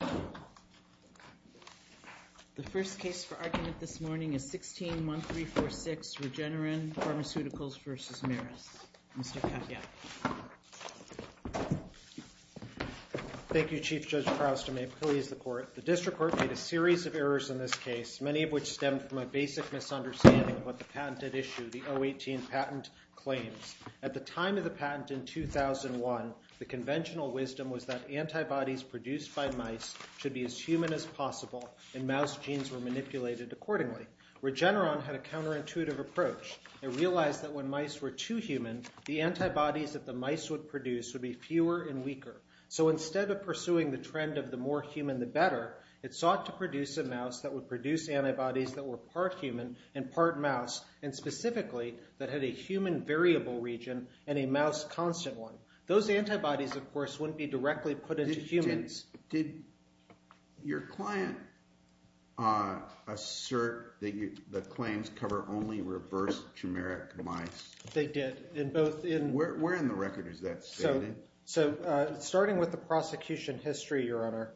The first case for argument this morning is 16-1346 Regeneron Pharmaceuticals v. Merus. Mr. Katyak. Thank you, Chief Judge Kraus. May it please the Court. The District Court made a series of errors in this case, many of which stemmed from a basic misunderstanding of what the patent had issued, the 018 patent claims. At the time of the patent in 2001, the conventional wisdom was that antibodies produced by mice should be as human as possible and mouse genes were manipulated accordingly. Regeneron had a counterintuitive approach. It realized that when mice were too human, the antibodies that the mice would produce would be fewer and weaker. So instead of pursuing the trend of the more human the better, it sought to produce a mouse that would produce antibodies that were part human and part mouse, and specifically that had a human variable region and a mouse constant one. Those antibodies, of course, wouldn't be directly put into humans. Did your client assert that the claims cover only reverse-tumoric mice? They did. Where in the record is that standing? So starting with the prosecution history, Your Honor,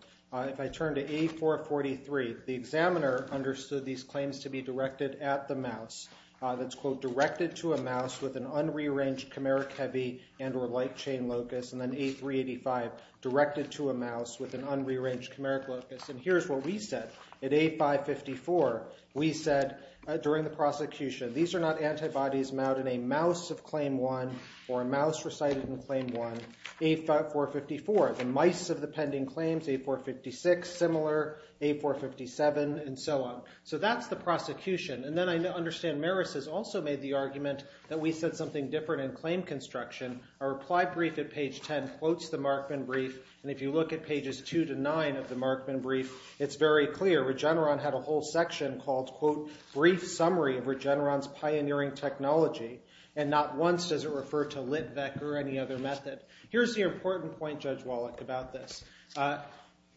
if I turn to A443, the examiner understood these claims to be directed at the mouse. That's, quote, directed to a mouse with an unrearranged chimeric heavy and or light chain locus, and then A385, directed to a mouse with an unrearranged chimeric locus. And here's what we said. At A554, we said during the prosecution, these are not antibodies mounted in a mouse of claim one or a mouse recited in claim one. A454, the mice of the pending claims, A456, similar, A457, and so on. So that's the prosecution. And then I understand Maris has also made the argument that we said something different in claim construction. Our reply brief at page 10 quotes the Markman brief. And if you look at pages two to nine of the Markman brief, it's very clear. Regeneron had a whole section called, quote, Brief Summary of Regeneron's Pioneering Technology. And not once does it refer to LitVec or any other method. Here's the important point, Judge Wallach, about this.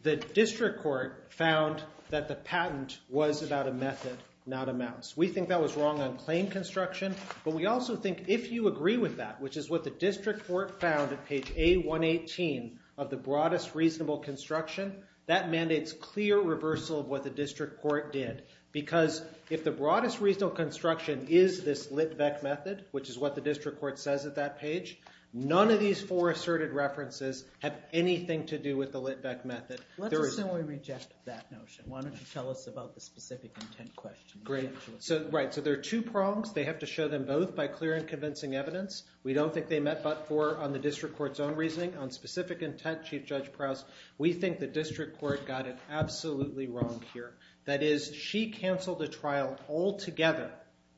The district court found that the patent was about a method, not a mouse. We think that was wrong on claim construction. But we also think if you agree with that, which is what the district court found at page A118 of the broadest reasonable construction, that mandates clear reversal of what the district court did. Because if the broadest reasonable construction is this LitVec method, which is what the district court says at that page, none of these four asserted references have anything to do with the LitVec method. Let's assume we reject that notion. Why don't you tell us about the specific intent question? Great. Right, so there are two prongs. They have to show them both by clear and convincing evidence. We don't think they met but for, on the district court's own reasoning, on specific intent, Chief Judge Prowse. We think the district court got it absolutely wrong here. That is, she canceled the trial altogether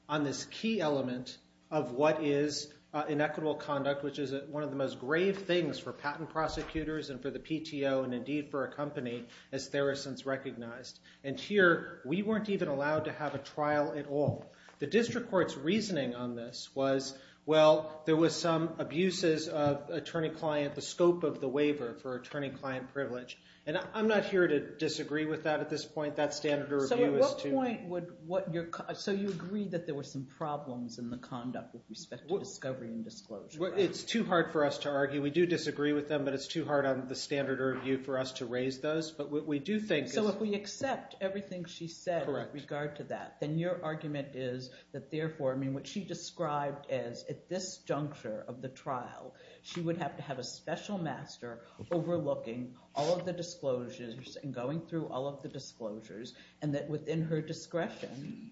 on this key element of what is inequitable conduct, which is one of the most grave things for patent prosecutors and for the PTO and, indeed, for a company, as there are since recognized. And here, we weren't even allowed to have a trial at all. The district court's reasoning on this was, well, there was some abuses of attorney-client, the scope of the waiver for attorney-client privilege. And I'm not here to disagree with that at this point. That standard of review is too— So at what point would what your—so you agree that there were some problems in the conduct with respect to discovery and disclosure. It's too hard for us to argue. We do disagree with them, but it's too hard on the standard of review for us to raise those. But what we do think— So if we accept everything she said— Correct. —with regard to that, then your argument is that, therefore, I mean, what she described as, at this juncture of the trial, she would have to have a special master overlooking all of the disclosures and going through all of the disclosures and that, within her discretion,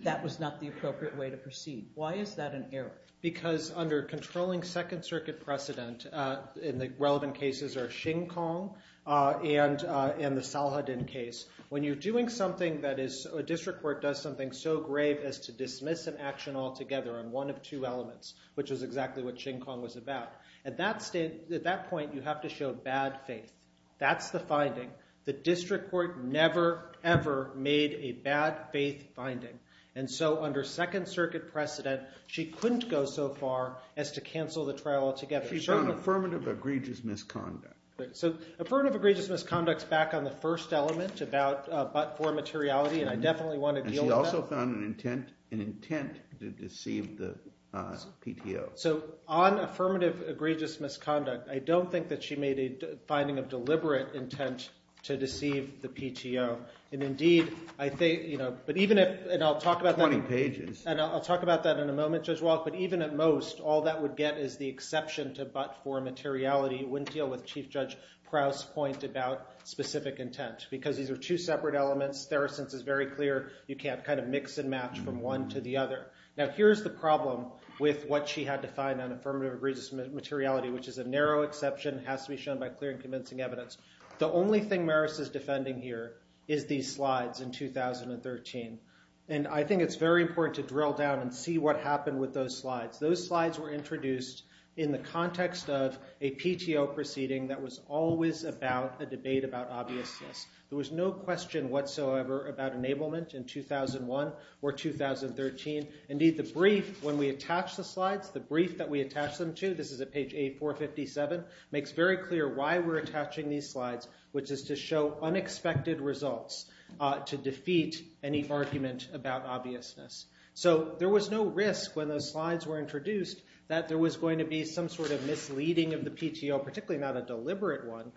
that was not the appropriate way to proceed. Why is that an error? Because under controlling Second Circuit precedent, and the relevant cases are Xin Kong and the Salahuddin case, when you're doing something that is—a district court does something so grave as to dismiss an action altogether on one of two elements, which is exactly what Xin Kong was about. At that point, you have to show bad faith. That's the finding. The district court never, ever made a bad faith finding. And so under Second Circuit precedent, she couldn't go so far as to cancel the trial altogether. She found affirmative egregious misconduct. So affirmative egregious misconduct is back on the first element about but-for materiality, and I definitely want to deal with that. And she also found an intent to deceive the PTO. So on affirmative egregious misconduct, I don't think that she made a finding of deliberate intent to deceive the PTO. And indeed, I think—but even if—and I'll talk about that— Twenty pages. And I'll talk about that in a moment, Judge Walk. But even at most, all that would get is the exception to but-for materiality. It wouldn't deal with Chief Judge Krauss' point about specific intent because these are two separate elements. There are—since it's very clear, you can't kind of mix and match from one to the other. Now here's the problem with what she had to find on affirmative egregious materiality, which is a narrow exception that has to be shown by clear and convincing evidence. The only thing Maris is defending here is these slides in 2013. And I think it's very important to drill down and see what happened with those slides. Those slides were introduced in the context of a PTO proceeding that was always about a debate about obviousness. There was no question whatsoever about enablement in 2001 or 2013. Indeed, the brief, when we attach the slides, the brief that we attach them to, this is at page A457, makes very clear why we're attaching these slides, which is to show unexpected results to defeat any argument about obviousness. So there was no risk when those slides were introduced that there was going to be some sort of misleading of the PTO, particularly not a deliberate one,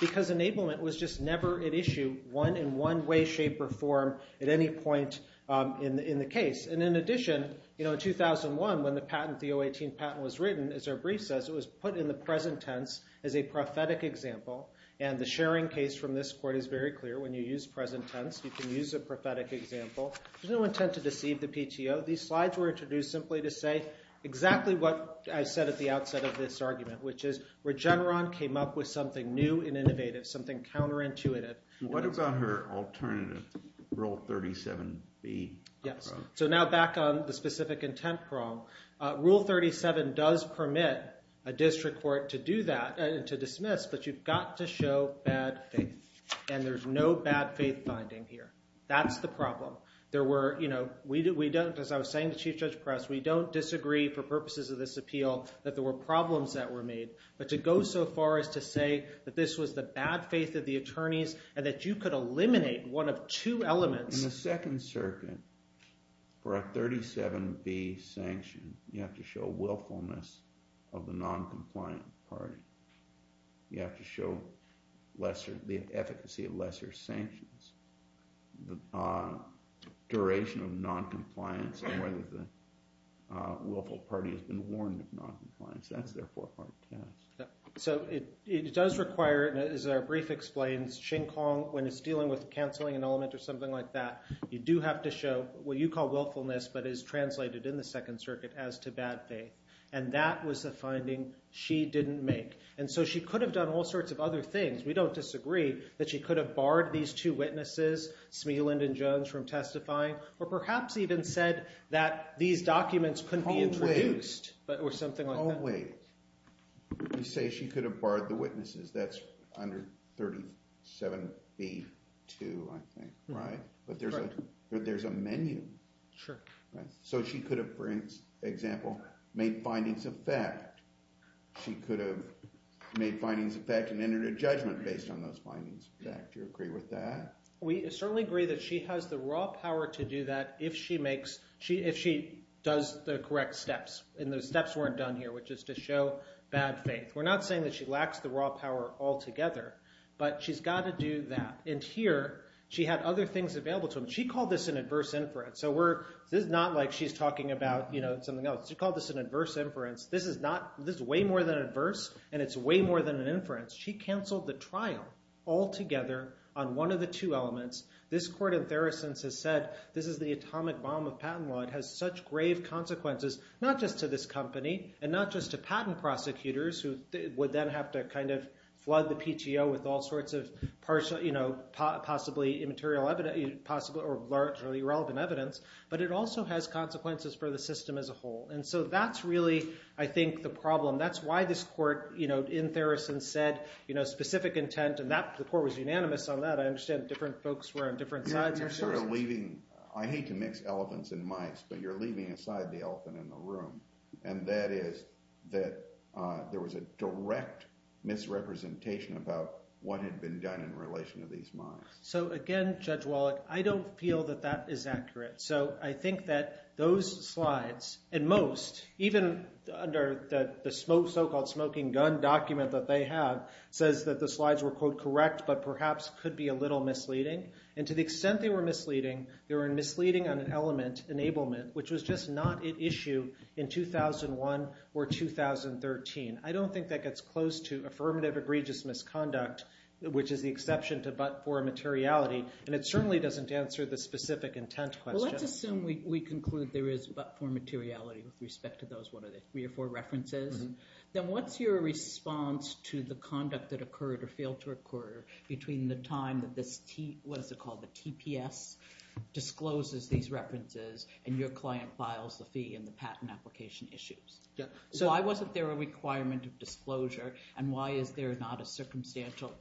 because enablement was just never at issue, one in one way, shape, or form at any point in the case. And in addition, in 2001, when the patent, the 018 patent was written, as our brief says, it was put in the present tense as a prophetic example. And the sharing case from this court is very clear. When you use present tense, you can use a prophetic example. There's no intent to deceive the PTO. These slides were introduced simply to say exactly what I said at the outset of this argument, which is Regeneron came up with something new and innovative, something counterintuitive. What about her alternative, Rule 37B? Yes. So now back on the specific intent prong. Rule 37 does permit a district court to do that and to dismiss, but you've got to show bad faith. And there's no bad faith finding here. That's the problem. There were, you know, we don't, as I was saying to Chief Judge Press, we don't disagree for purposes of this appeal that there were problems that were made. But to go so far as to say that this was the bad faith of the attorneys and that you could eliminate one of two elements. In the Second Circuit, for a 37B sanction, you have to show willfulness of the noncompliant party. You have to show lesser, the efficacy of lesser sanctions. The duration of noncompliance and whether the willful party has been warned of noncompliance. That's their forefront task. So it does require, and as our brief explains, Shing-Kong, when it's dealing with canceling an element or something like that, you do have to show what you call willfulness but is translated in the Second Circuit as to bad faith. And that was the finding she didn't make. And so she could have done all sorts of other things. We don't disagree that she could have barred these two witnesses, Smealand and Jones, from testifying or perhaps even said that these documents couldn't be introduced or something like that. In that way, you say she could have barred the witnesses. That's under 37B-2, I think, right? Correct. But there's a menu. Sure. So she could have, for example, made findings of fact. She could have made findings of fact and entered a judgment based on those findings of fact. Do you agree with that? We certainly agree that she has the raw power to do that if she makes, if she does the correct steps. And those steps weren't done here, which is to show bad faith. We're not saying that she lacks the raw power altogether. But she's got to do that. And here she had other things available to her. She called this an adverse inference. So this is not like she's talking about something else. She called this an adverse inference. This is way more than adverse, and it's way more than an inference. She canceled the trial altogether on one of the two elements. This court in Theracens has said this is the atomic bomb of patent law. It has such grave consequences, not just to this company and not just to patent prosecutors, who would then have to kind of flood the PTO with all sorts of possibly immaterial evidence or largely irrelevant evidence. But it also has consequences for the system as a whole. And so that's really, I think, the problem. That's why this court in Theracens said specific intent, and the court was unanimous on that. I understand different folks were on different sides. I hate to mix elephants and mice, but you're leaving aside the elephant in the room, and that is that there was a direct misrepresentation about what had been done in relation to these mice. So, again, Judge Wallach, I don't feel that that is accurate. So I think that those slides, and most, even under the so-called smoking gun document that they have, says that the slides were, quote, correct but perhaps could be a little misleading. And to the extent they were misleading, they were misleading on an element, enablement, which was just not at issue in 2001 or 2013. I don't think that gets close to affirmative egregious misconduct, which is the exception to but-for materiality, and it certainly doesn't answer the specific intent question. Well, let's assume we conclude there is but-for materiality with respect to those, what are they, three or four references? Then what's your response to the conduct that occurred or failed to occur between the time that this TPS discloses these references and your client files the fee and the patent application issues? Why wasn't there a requirement of disclosure, and why is there not a circumstantial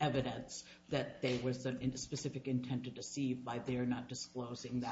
evidence that there was a specific intent to deceive by their not disclosing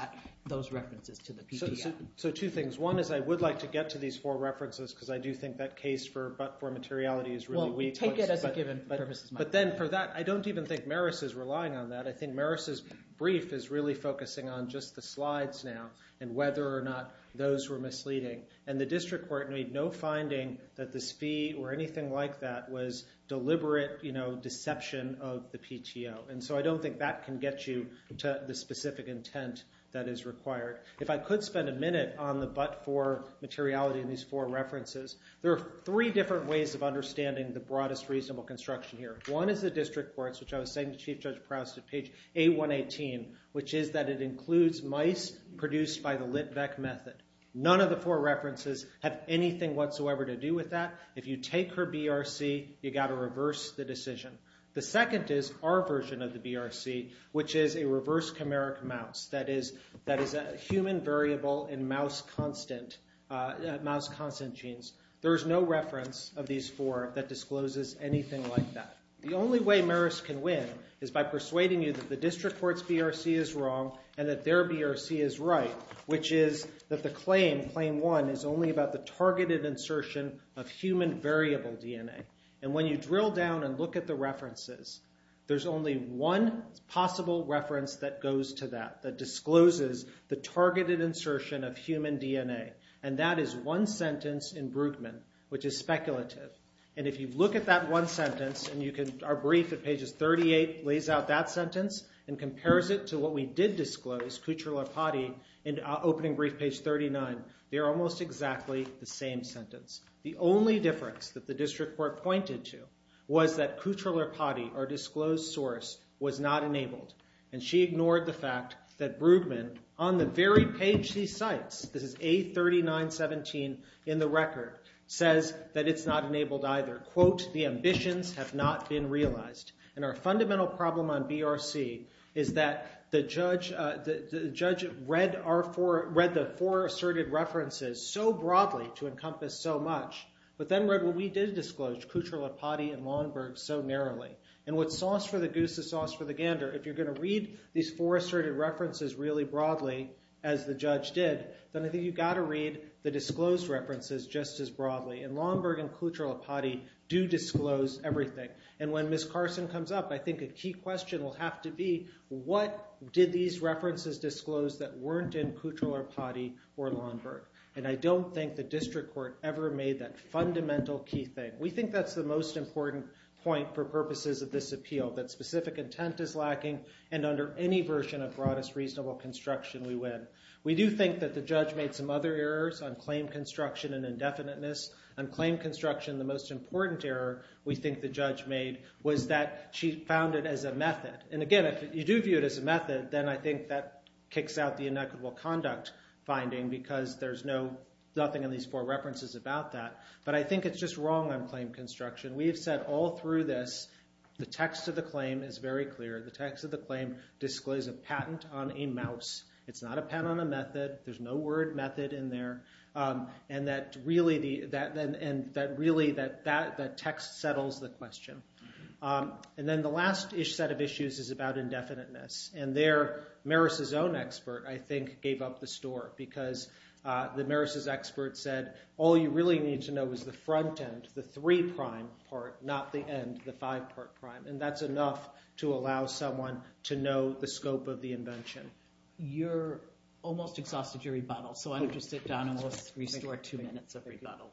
those references to the PPS? So two things. One is I would like to get to these four references because I do think that case for but-for materiality is really weak. Well, take it as a given. But then for that, I don't even think Maris is relying on that. I think Maris' brief is really focusing on just the slides now and whether or not those were misleading. And the district court made no finding that this fee or anything like that was deliberate deception of the PTO. And so I don't think that can get you to the specific intent that is required. If I could spend a minute on the but-for materiality in these four references, there are three different ways of understanding the broadest reasonable construction here. One is the district courts, which I was saying to Chief Judge Proust at page A118, which is that it includes mice produced by the Litvec method. None of the four references have anything whatsoever to do with that. If you take her BRC, you've got to reverse the decision. The second is our version of the BRC, which is a reverse chimeric mouse, that is a human variable in mouse constant genes. There is no reference of these four that discloses anything like that. The only way Maris can win is by persuading you that the district court's BRC is wrong and that their BRC is right, which is that the claim, claim one, is only about the targeted insertion of human variable DNA. When you drill down and look at the references, there's only one possible reference that goes to that, that discloses the targeted insertion of human DNA. That is one sentence in Brueggemann, which is speculative. If you look at that one sentence, our brief at pages 38 lays out that sentence and compares it to what we did disclose, Kutcher-Larpati, in opening brief page 39. They're almost exactly the same sentence. The only difference that the district court pointed to was that Kutcher-Larpati, our disclosed source, was not enabled, and she ignored the fact that Brueggemann, on the very page she cites, this is A3917 in the record, says that it's not enabled either. Quote, the ambitions have not been realized. And our fundamental problem on BRC is that the judge read the four asserted references so broadly to encompass so much, but then read what we did disclose, Kutcher-Larpati and Longberg, so narrowly. And what's sauce for the goose is sauce for the gander. If you're going to read these four asserted references really broadly, as the judge did, then I think you've got to read the disclosed references just as broadly. And Longberg and Kutcher-Larpati do disclose everything. And when Ms. Carson comes up, I think a key question will have to be, what did these references disclose that weren't in Kutcher-Larpati or Longberg? And I don't think the district court ever made that fundamental key thing. We think that's the most important point for purposes of this appeal, that specific intent is lacking, and under any version of broadest reasonable construction, we win. We do think that the judge made some other errors on claim construction and indefiniteness. On claim construction, the most important error we think the judge made was that she found it as a method. And again, if you do view it as a method, then I think that kicks out the inequitable conduct finding because there's nothing in these four references about that. But I think it's just wrong on claim construction. We have said all through this, the text of the claim is very clear. The text of the claim discloses a patent on a mouse. It's not a patent on a method. There's no word method in there. And really, that text settles the question. And then the last-ish set of issues is about indefiniteness. And there, Maris' own expert, I think, gave up the store because the Maris' expert said, all you really need to know is the front end, the three-prime part, not the end, the five-part prime. And that's enough to allow someone to know the scope of the invention. You're almost exhausted your rebuttal. So I'm going to sit down and we'll restore two minutes of rebuttal.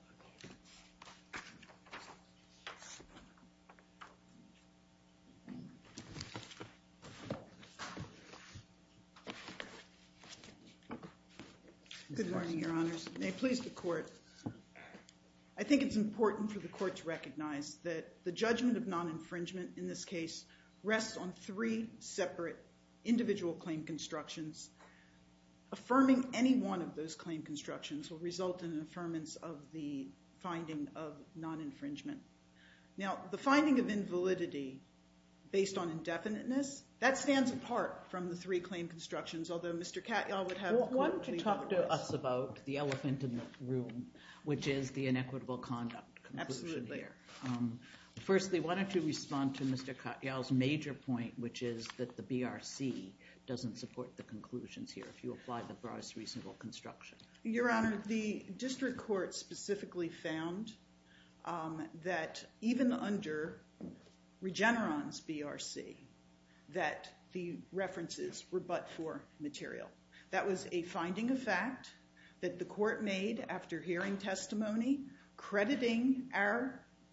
Good morning, Your Honors. May it please the Court. I think it's important for the Court to recognize that the judgment of non-infringement in this case rests on three separate individual claim constructions. Affirming any one of those claim constructions will result in an affirmance of the finding of non-infringement. Now, the finding of invalidity based on indefiniteness, that stands apart from the three claim constructions, although Mr. Katyal would have a clear voice. Why don't you talk to us about the elephant in the room, which is the inequitable conduct conclusion here. Absolutely. Firstly, why don't you respond to Mr. Katyal's major point, which is that the BRC doesn't support the conclusions here, if you apply the broadest reasonable construction. Your Honor, the District Court specifically found that even under Regeneron's BRC, that the references were but for material. That was a finding of fact that the Court made after hearing testimony, crediting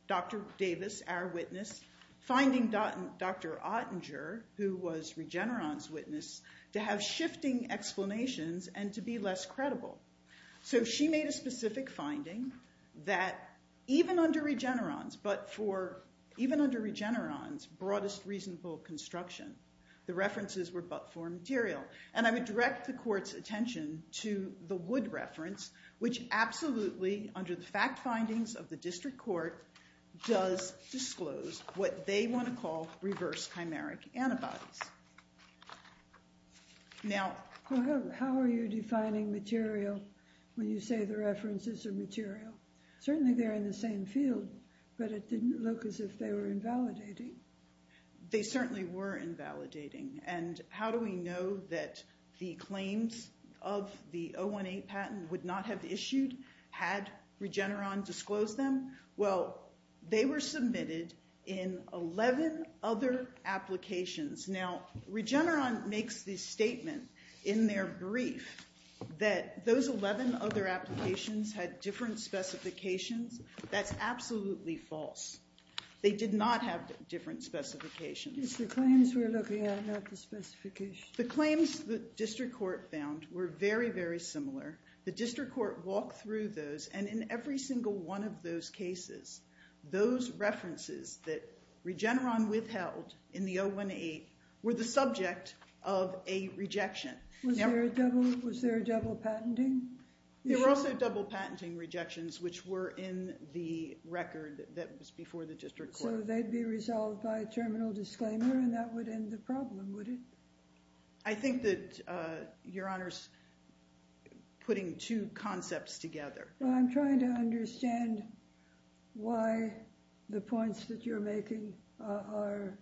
Dr. Davis, our witness, finding Dr. Ottinger, who was Regeneron's witness, to have shifting explanations and to be less credible. So she made a specific finding that even under Regeneron's broadest reasonable construction, the references were but for material. And I would direct the Court's attention to the Wood reference, which absolutely, under the fact findings of the District Court, does disclose what they want to call reverse chimeric antibodies. How are you defining material when you say the references are material? Certainly they're in the same field, but it didn't look as if they were invalidating. They certainly were invalidating. And how do we know that the claims of the 018 patent would not have issued had Regeneron disclosed them? Well, they were submitted in 11 other applications. Now, Regeneron makes the statement in their brief that those 11 other applications had different specifications. That's absolutely false. They did not have different specifications. It's the claims we're looking at, not the specifications. The claims the District Court found were very, very similar. The District Court walked through those, and in every single one of those cases, those references that Regeneron withheld in the 018 were the subject of a rejection. Was there a double patenting? There were also double patenting rejections, which were in the record that was before the District Court. So they'd be resolved by terminal disclaimer, and that would end the problem, would it? I think that Your Honor's putting two concepts together. Well, I'm trying to understand why the points that you're making are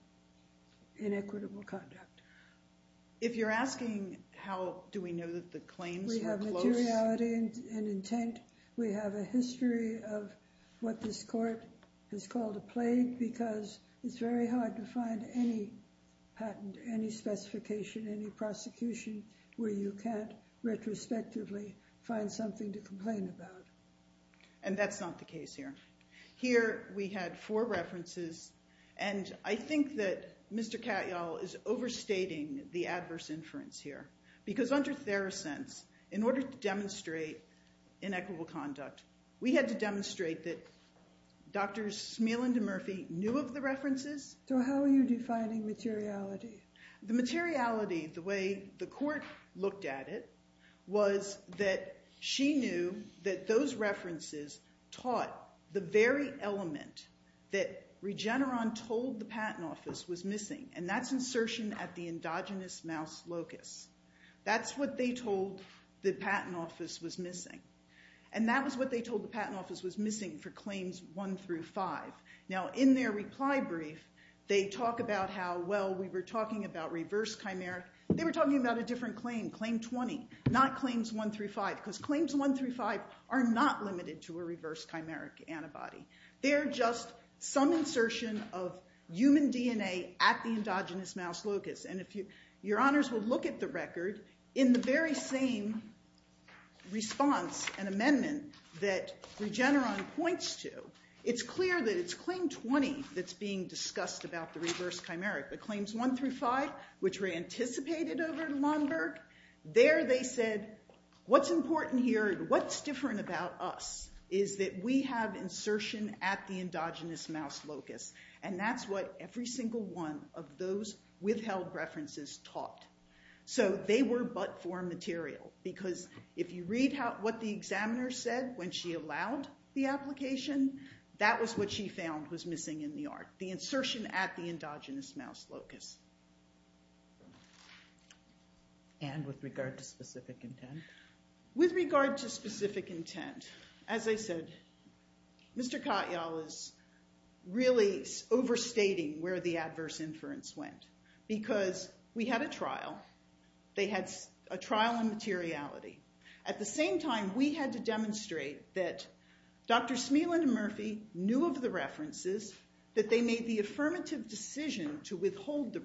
inequitable conduct. If you're asking how do we know that the claims were close? We have materiality and intent. We have a history of what this Court has called a plague because it's very hard to find any patent, any specification, any prosecution where you can't retrospectively find something to complain about. And that's not the case here. Here we had four references, and I think that Mr. Katyal is overstating the adverse inference here because under Therosense, in order to demonstrate inequitable conduct, we had to demonstrate that Drs. Smealan and Murphy knew of the references. So how are you defining materiality? The materiality, the way the Court looked at it, was that she knew that those references taught the very element that Regeneron told the Patent Office was missing, and that's insertion at the endogenous mouse locus. That's what they told the Patent Office was missing, and that was what they told the Patent Office was missing for Claims 1 through 5. Now, in their reply brief, they talk about how, well, we were talking about reverse chimeric. They were talking about a different claim, Claim 20, not Claims 1 through 5, because Claims 1 through 5 are not limited to a reverse chimeric antibody. They're just some insertion of human DNA at the endogenous mouse locus. And your honors will look at the record. In the very same response and amendment that Regeneron points to, it's clear that it's Claim 20 that's being discussed about the reverse chimeric, but Claims 1 through 5, which were anticipated over at Lomberg, there they said, what's important here and what's different about us is that we have insertion at the endogenous mouse locus, and that's what every single one of those withheld references taught. So they were but for material, because if you read what the examiner said when she allowed the application, that was what she found was missing in the art, the insertion at the endogenous mouse locus. And with regard to specific intent? With regard to specific intent, as I said, Mr. Katyal is really overstating where the adverse inference went, because we had a trial. They had a trial on materiality. At the same time, we had to demonstrate that Dr. Smealand and Murphy knew of the references, that they made the affirmative decision to withhold the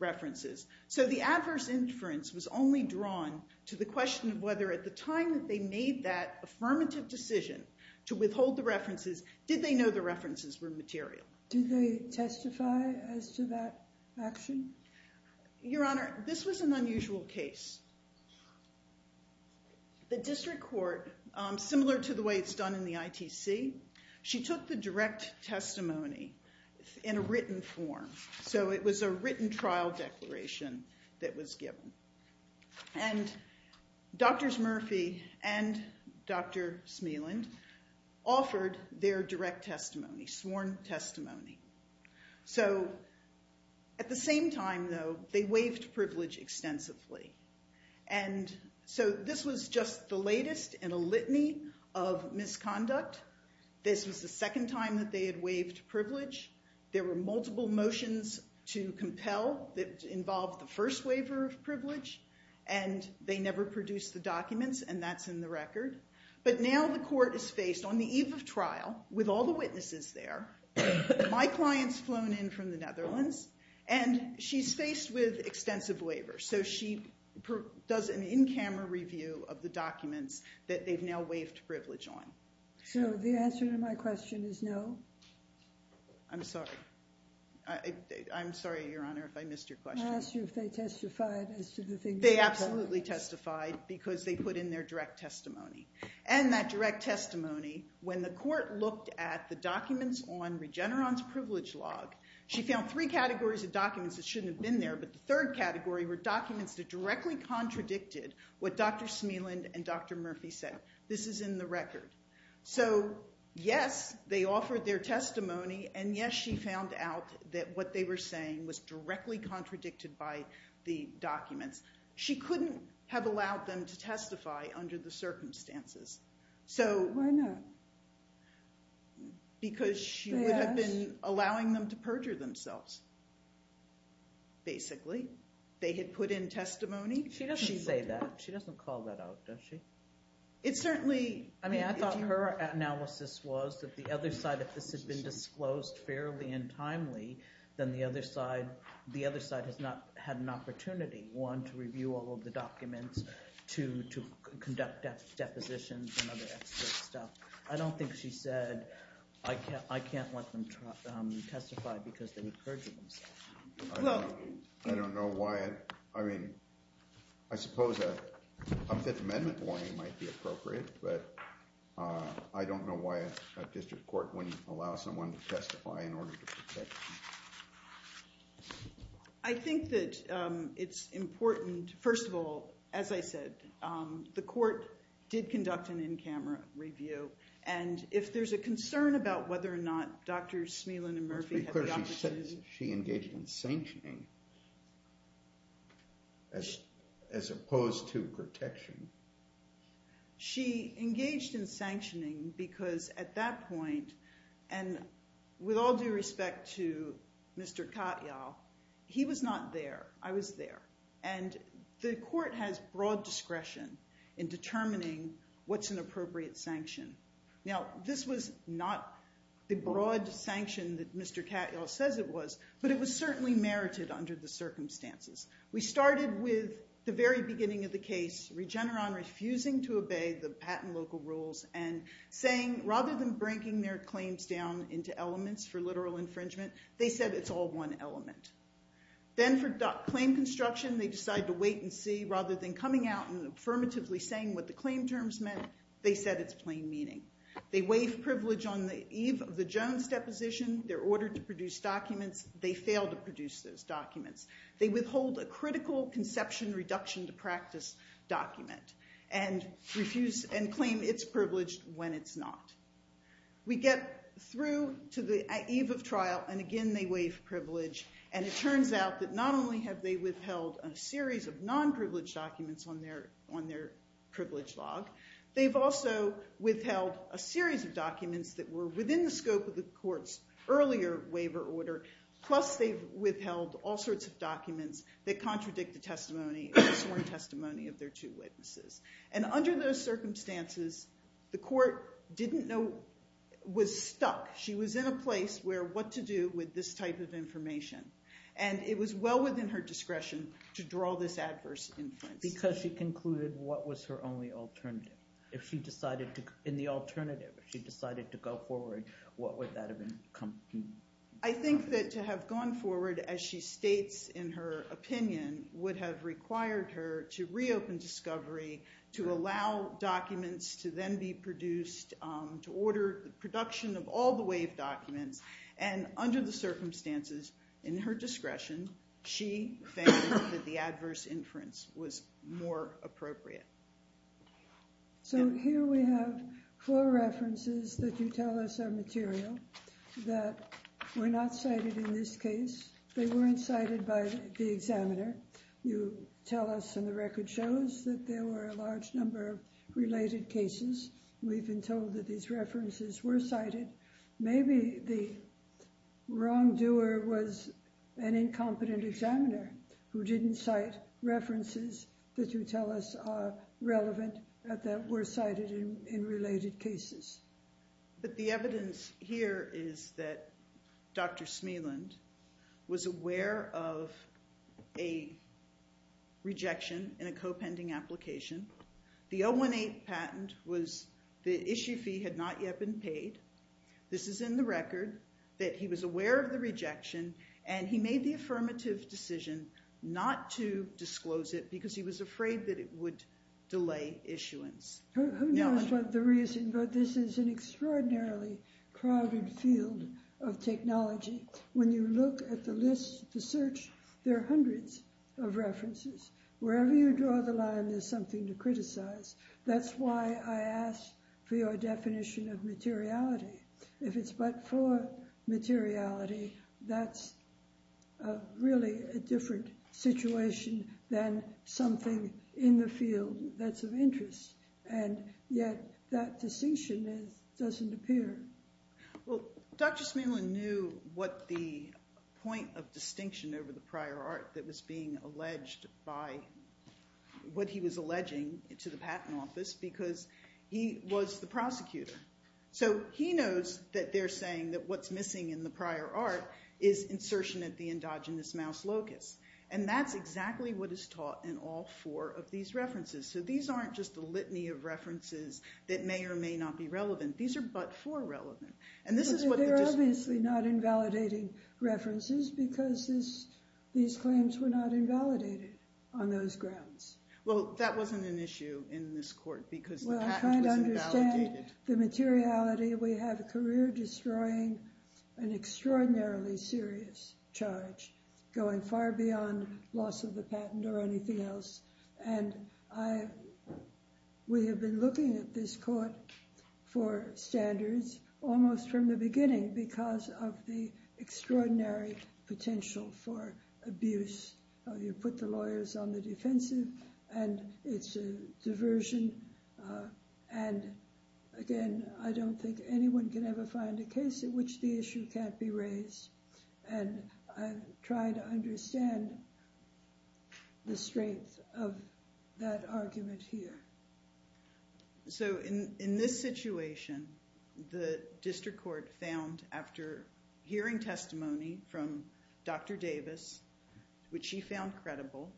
references. So the adverse inference was only drawn to the question of whether at the time that they made that affirmative decision to withhold the references, did they know the references were material? Did they testify as to that action? Your Honor, this was an unusual case. The district court, similar to the way it's done in the ITC, she took the direct testimony in a written form. So it was a written trial declaration that was given. And Drs. Murphy and Dr. Smealand offered their direct testimony, sworn testimony. So at the same time, though, they waived privilege extensively. And so this was just the latest in a litany of misconduct. This was the second time that they had waived privilege. There were multiple motions to compel that involved the first waiver of privilege, and they never produced the documents, and that's in the record. But now the court is faced, on the eve of trial, with all the witnesses there, my clients flown in from the Netherlands, and she's faced with extensive waiver. So she does an in-camera review of the documents that they've now waived privilege on. So the answer to my question is no? I'm sorry. I'm sorry, Your Honor, if I missed your question. because they put in their direct testimony. And that direct testimony, when the court looked at the documents on Regeneron's privilege log, she found three categories of documents that shouldn't have been there, but the third category were documents that directly contradicted what Dr. Smealand and Dr. Murphy said. This is in the record. So, yes, they offered their testimony, and, yes, she found out that what they were saying was directly contradicted by the documents. She couldn't have allowed them to testify under the circumstances. Why not? Because she would have been allowing them to perjure themselves, basically. They had put in testimony. She doesn't say that. She doesn't call that out, does she? It certainly... I mean, I thought her analysis was that the other side, if this had been disclosed fairly and timely, then the other side has not had an opportunity, one, to review all of the documents, two, to conduct depositions and other extra stuff. I don't think she said, I can't let them testify because they would perjure themselves. I don't know why. I mean, I suppose a Fifth Amendment warning might be appropriate, but I don't know why a district court wouldn't allow someone to testify in order to protect them. I think that it's important, first of all, as I said, the court did conduct an in-camera review, and if there's a concern about whether or not Drs. Smelin and Murphy had the opportunity... It's pretty clear she said she engaged in sanctioning as opposed to protection. She engaged in sanctioning because at that point, and with all due respect to Mr. Katyal, he was not there. I was there. And the court has broad discretion in determining what's an appropriate sanction. Now, this was not the broad sanction that Mr. Katyal says it was, but it was certainly merited under the circumstances. We started with the very beginning of the case, Regeneron refusing to obey the patent local rules and saying rather than breaking their claims down into elements for literal infringement, they said it's all one element. Then for claim construction, they decided to wait and see. Rather than coming out and affirmatively saying what the claim terms meant, they said it's plain meaning. They waived privilege on the eve of the Jones deposition. They're ordered to produce documents. They failed to produce those documents. They withhold a critical conception reduction to practice document and claim it's privileged when it's not. We get through to the eve of trial, and again they waive privilege. And it turns out that not only have they withheld a series of non-privileged documents on their privilege log, they've also withheld a series of documents that were within the scope of the court's earlier waiver order, plus they've withheld all sorts of documents that contradict the sworn testimony of their two witnesses. And under those circumstances, the court was stuck. She was in a place where what to do with this type of information. And it was well within her discretion to draw this adverse influence. Because she concluded what was her only alternative. In the alternative, if she decided to go forward, what would that have been? I think that to have gone forward, as she states in her opinion, would have required her to reopen discovery, to allow documents to then be produced, to order the production of all the waived documents. And under the circumstances, in her discretion, she found that the adverse inference was more appropriate. So here we have four references that you tell us are material. That were not cited in this case. They weren't cited by the examiner. You tell us, and the record shows, that there were a large number of related cases. We've been told that these references were cited. Maybe the wrongdoer was an incompetent examiner who didn't cite references that you tell us are relevant, that were cited in related cases. But the evidence here is that Dr. Smeland was aware of a rejection in a co-pending application. The 018 patent was the issue fee had not yet been paid. This is in the record, that he was aware of the rejection, and he made the affirmative decision not to disclose it, because he was afraid that it would delay issuance. Who knows what the reason, but this is an extraordinarily crowded field of technology. When you look at the list, the search, there are hundreds of references. Wherever you draw the line, there's something to criticize. That's why I asked for your definition of materiality. If it's but for materiality, that's really a different situation than something in the field that's of interest, and yet that distinction doesn't appear. Well, Dr. Smeland knew what the point of distinction over the prior art that was being alleged by, what he was alleging to the patent office, because he was the prosecutor. So he knows that they're saying that what's missing in the prior art is insertion at the endogenous mouse locus, and that's exactly what is taught in all four of these references. So these aren't just a litany of references that may or may not be relevant. These are but for relevant. They're obviously not invalidating references because these claims were not invalidated on those grounds. Well, that wasn't an issue in this court because the patent was invalidated. Well, I kind of understand the materiality. We have a career destroying an extraordinarily serious charge going far beyond loss of the patent or anything else, and we have been looking at this court for standards almost from the beginning because of the extraordinary potential for abuse. You put the lawyers on the defensive, and it's a diversion, and again, I don't think anyone can ever find a case in which the issue can't be raised, and I try to understand the strength of that argument here. So in this situation, the district court found after hearing testimony from Dr. Davis, which she found credible,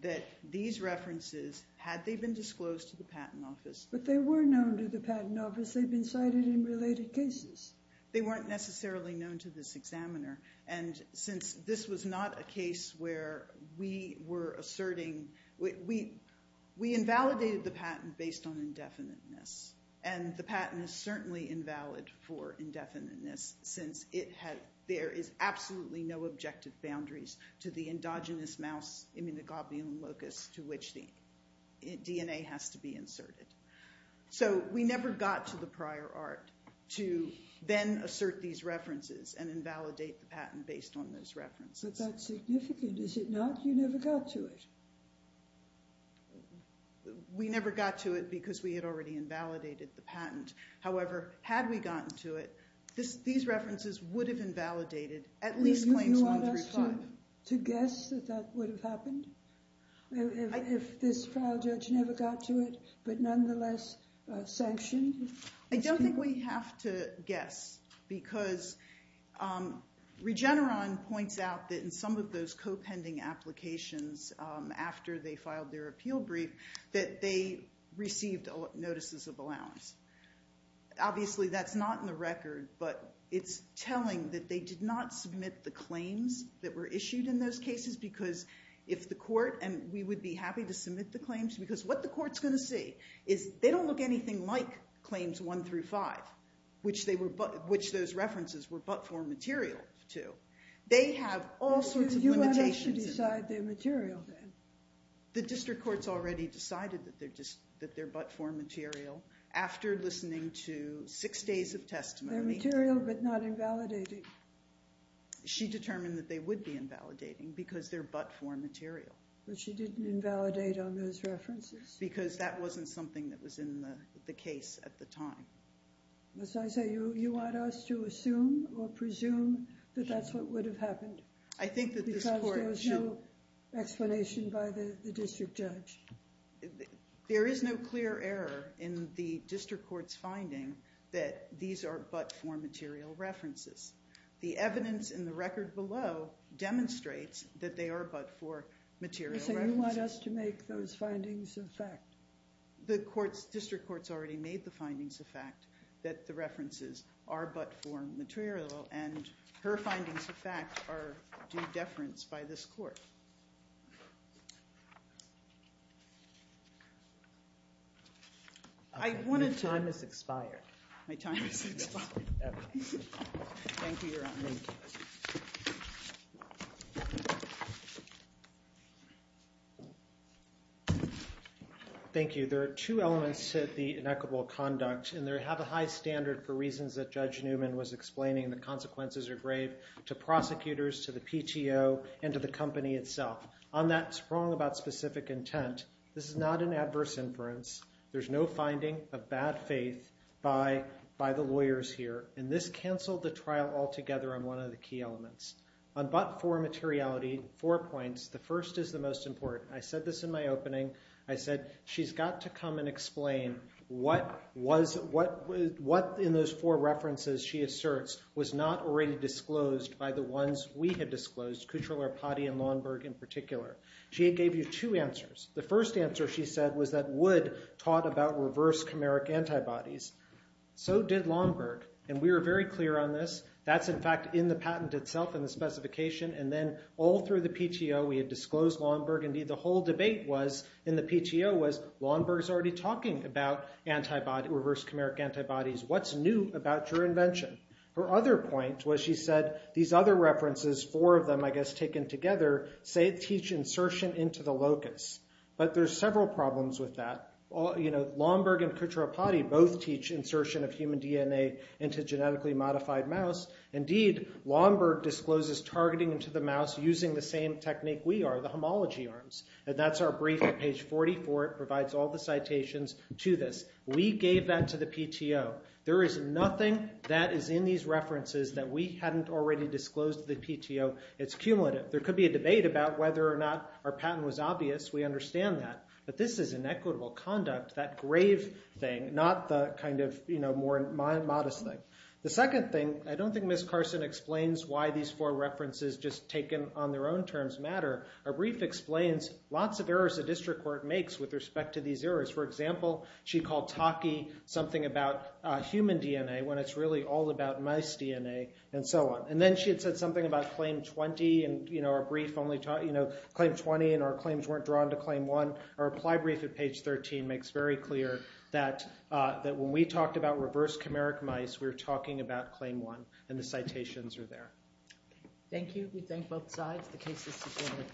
that these references, had they been disclosed to the patent office... But they were known to the patent office. They'd been cited in related cases. They weren't necessarily known to this examiner, and since this was not a case where we were asserting... We invalidated the patent based on indefiniteness, and the patent is certainly invalid for indefiniteness since there is absolutely no objective boundaries to the endogenous mouse immunoglobulin locus to which the DNA has to be inserted. So we never got to the prior art to then assert these references and invalidate the patent based on those references. But that's significant, is it not? You never got to it. We never got to it because we had already invalidated the patent. However, had we gotten to it, these references would have invalidated at least claims 1 through 5. Do you want us to guess that that would have happened? If this trial judge never got to it, but nonetheless sanctioned? I don't think we have to guess because Regeneron points out that in some of those co-pending applications after they filed their appeal brief that they received notices of allowance. Obviously, that's not in the record, but it's telling that they did not submit the claims that were issued in those cases because if the court... And we would be happy to submit the claims because what the court's going to see is they don't look anything like claims 1 through 5, which those references were but-for material to. They have all sorts of limitations. Do you want us to decide they're material then? The district court's already decided that they're but-for material after listening to six days of testimony. They're material but not invalidating. She determined that they would be invalidating because they're but-for material. But she didn't invalidate on those references? Because that wasn't something that was in the case at the time. As I say, you want us to assume or presume that that's what would have happened? I think that this court should... Because there's no explanation by the district judge. There is no clear error in the district court's finding that these are but-for material references. The evidence in the record below demonstrates that they are but-for material references. You want us to make those findings a fact? The district court's already made the findings a fact that the references are but-for material, and her findings of fact are due deference by this court. My time has expired. My time has expired. Thank you, Your Honor. Thank you. Thank you. There are two elements to the inequitable conduct, and they have a high standard for reasons that Judge Newman was explaining. The consequences are grave to prosecutors, to the PTO, and to the company itself. On that sprung about specific intent, this is not an adverse inference. There's no finding of bad faith by the lawyers here, and this canceled the trial altogether on one of the key elements. On but-for materiality, four points. The first is the most important. I said this in my opening. I said, she's got to come and explain what in those four references she asserts was not already disclosed by the ones we had disclosed, Kutcherler, Potti, and Longberg in particular. She gave you two answers. The first answer, she said, was that Wood taught about reverse chimeric antibodies. So did Longberg. And we were very clear on this. That's, in fact, in the patent itself in the specification. And then all through the PTO, we had disclosed Longberg. Indeed, the whole debate in the PTO was Longberg's already talking about reverse chimeric antibodies. What's new about your invention? Her other point was she said these other references, four of them, I guess, taken together, say teach insertion into the locus. But there's several problems with that. Longberg and Kutcherler-Potti both teach insertion of human DNA into genetically modified mouse. Indeed, Longberg discloses targeting into the mouse using the same technique we are, the homology arms. And that's our brief at page 44. It provides all the citations to this. We gave that to the PTO. There is nothing that is in these references that we hadn't already disclosed to the PTO. It's cumulative. There could be a debate about whether or not our patent was obvious. We understand that. But this is inequitable conduct, that grave thing, not the kind of more modest thing. The second thing, I don't think Ms. Carson explains why these four references just taken on their own terms matter. Our brief explains lots of errors the district court makes with respect to these errors. For example, she called talkie something about human DNA when it's really all about mouse DNA and so on. And then she had said something about claim 20. And our brief only taught claim 20. And our claims weren't drawn to claim one. Our reply brief at page 13 makes very clear that when we talked about reverse chimeric mice, we were talking about claim one. And the citations are there. Thank you. We thank both sides. The case is subpoenaed.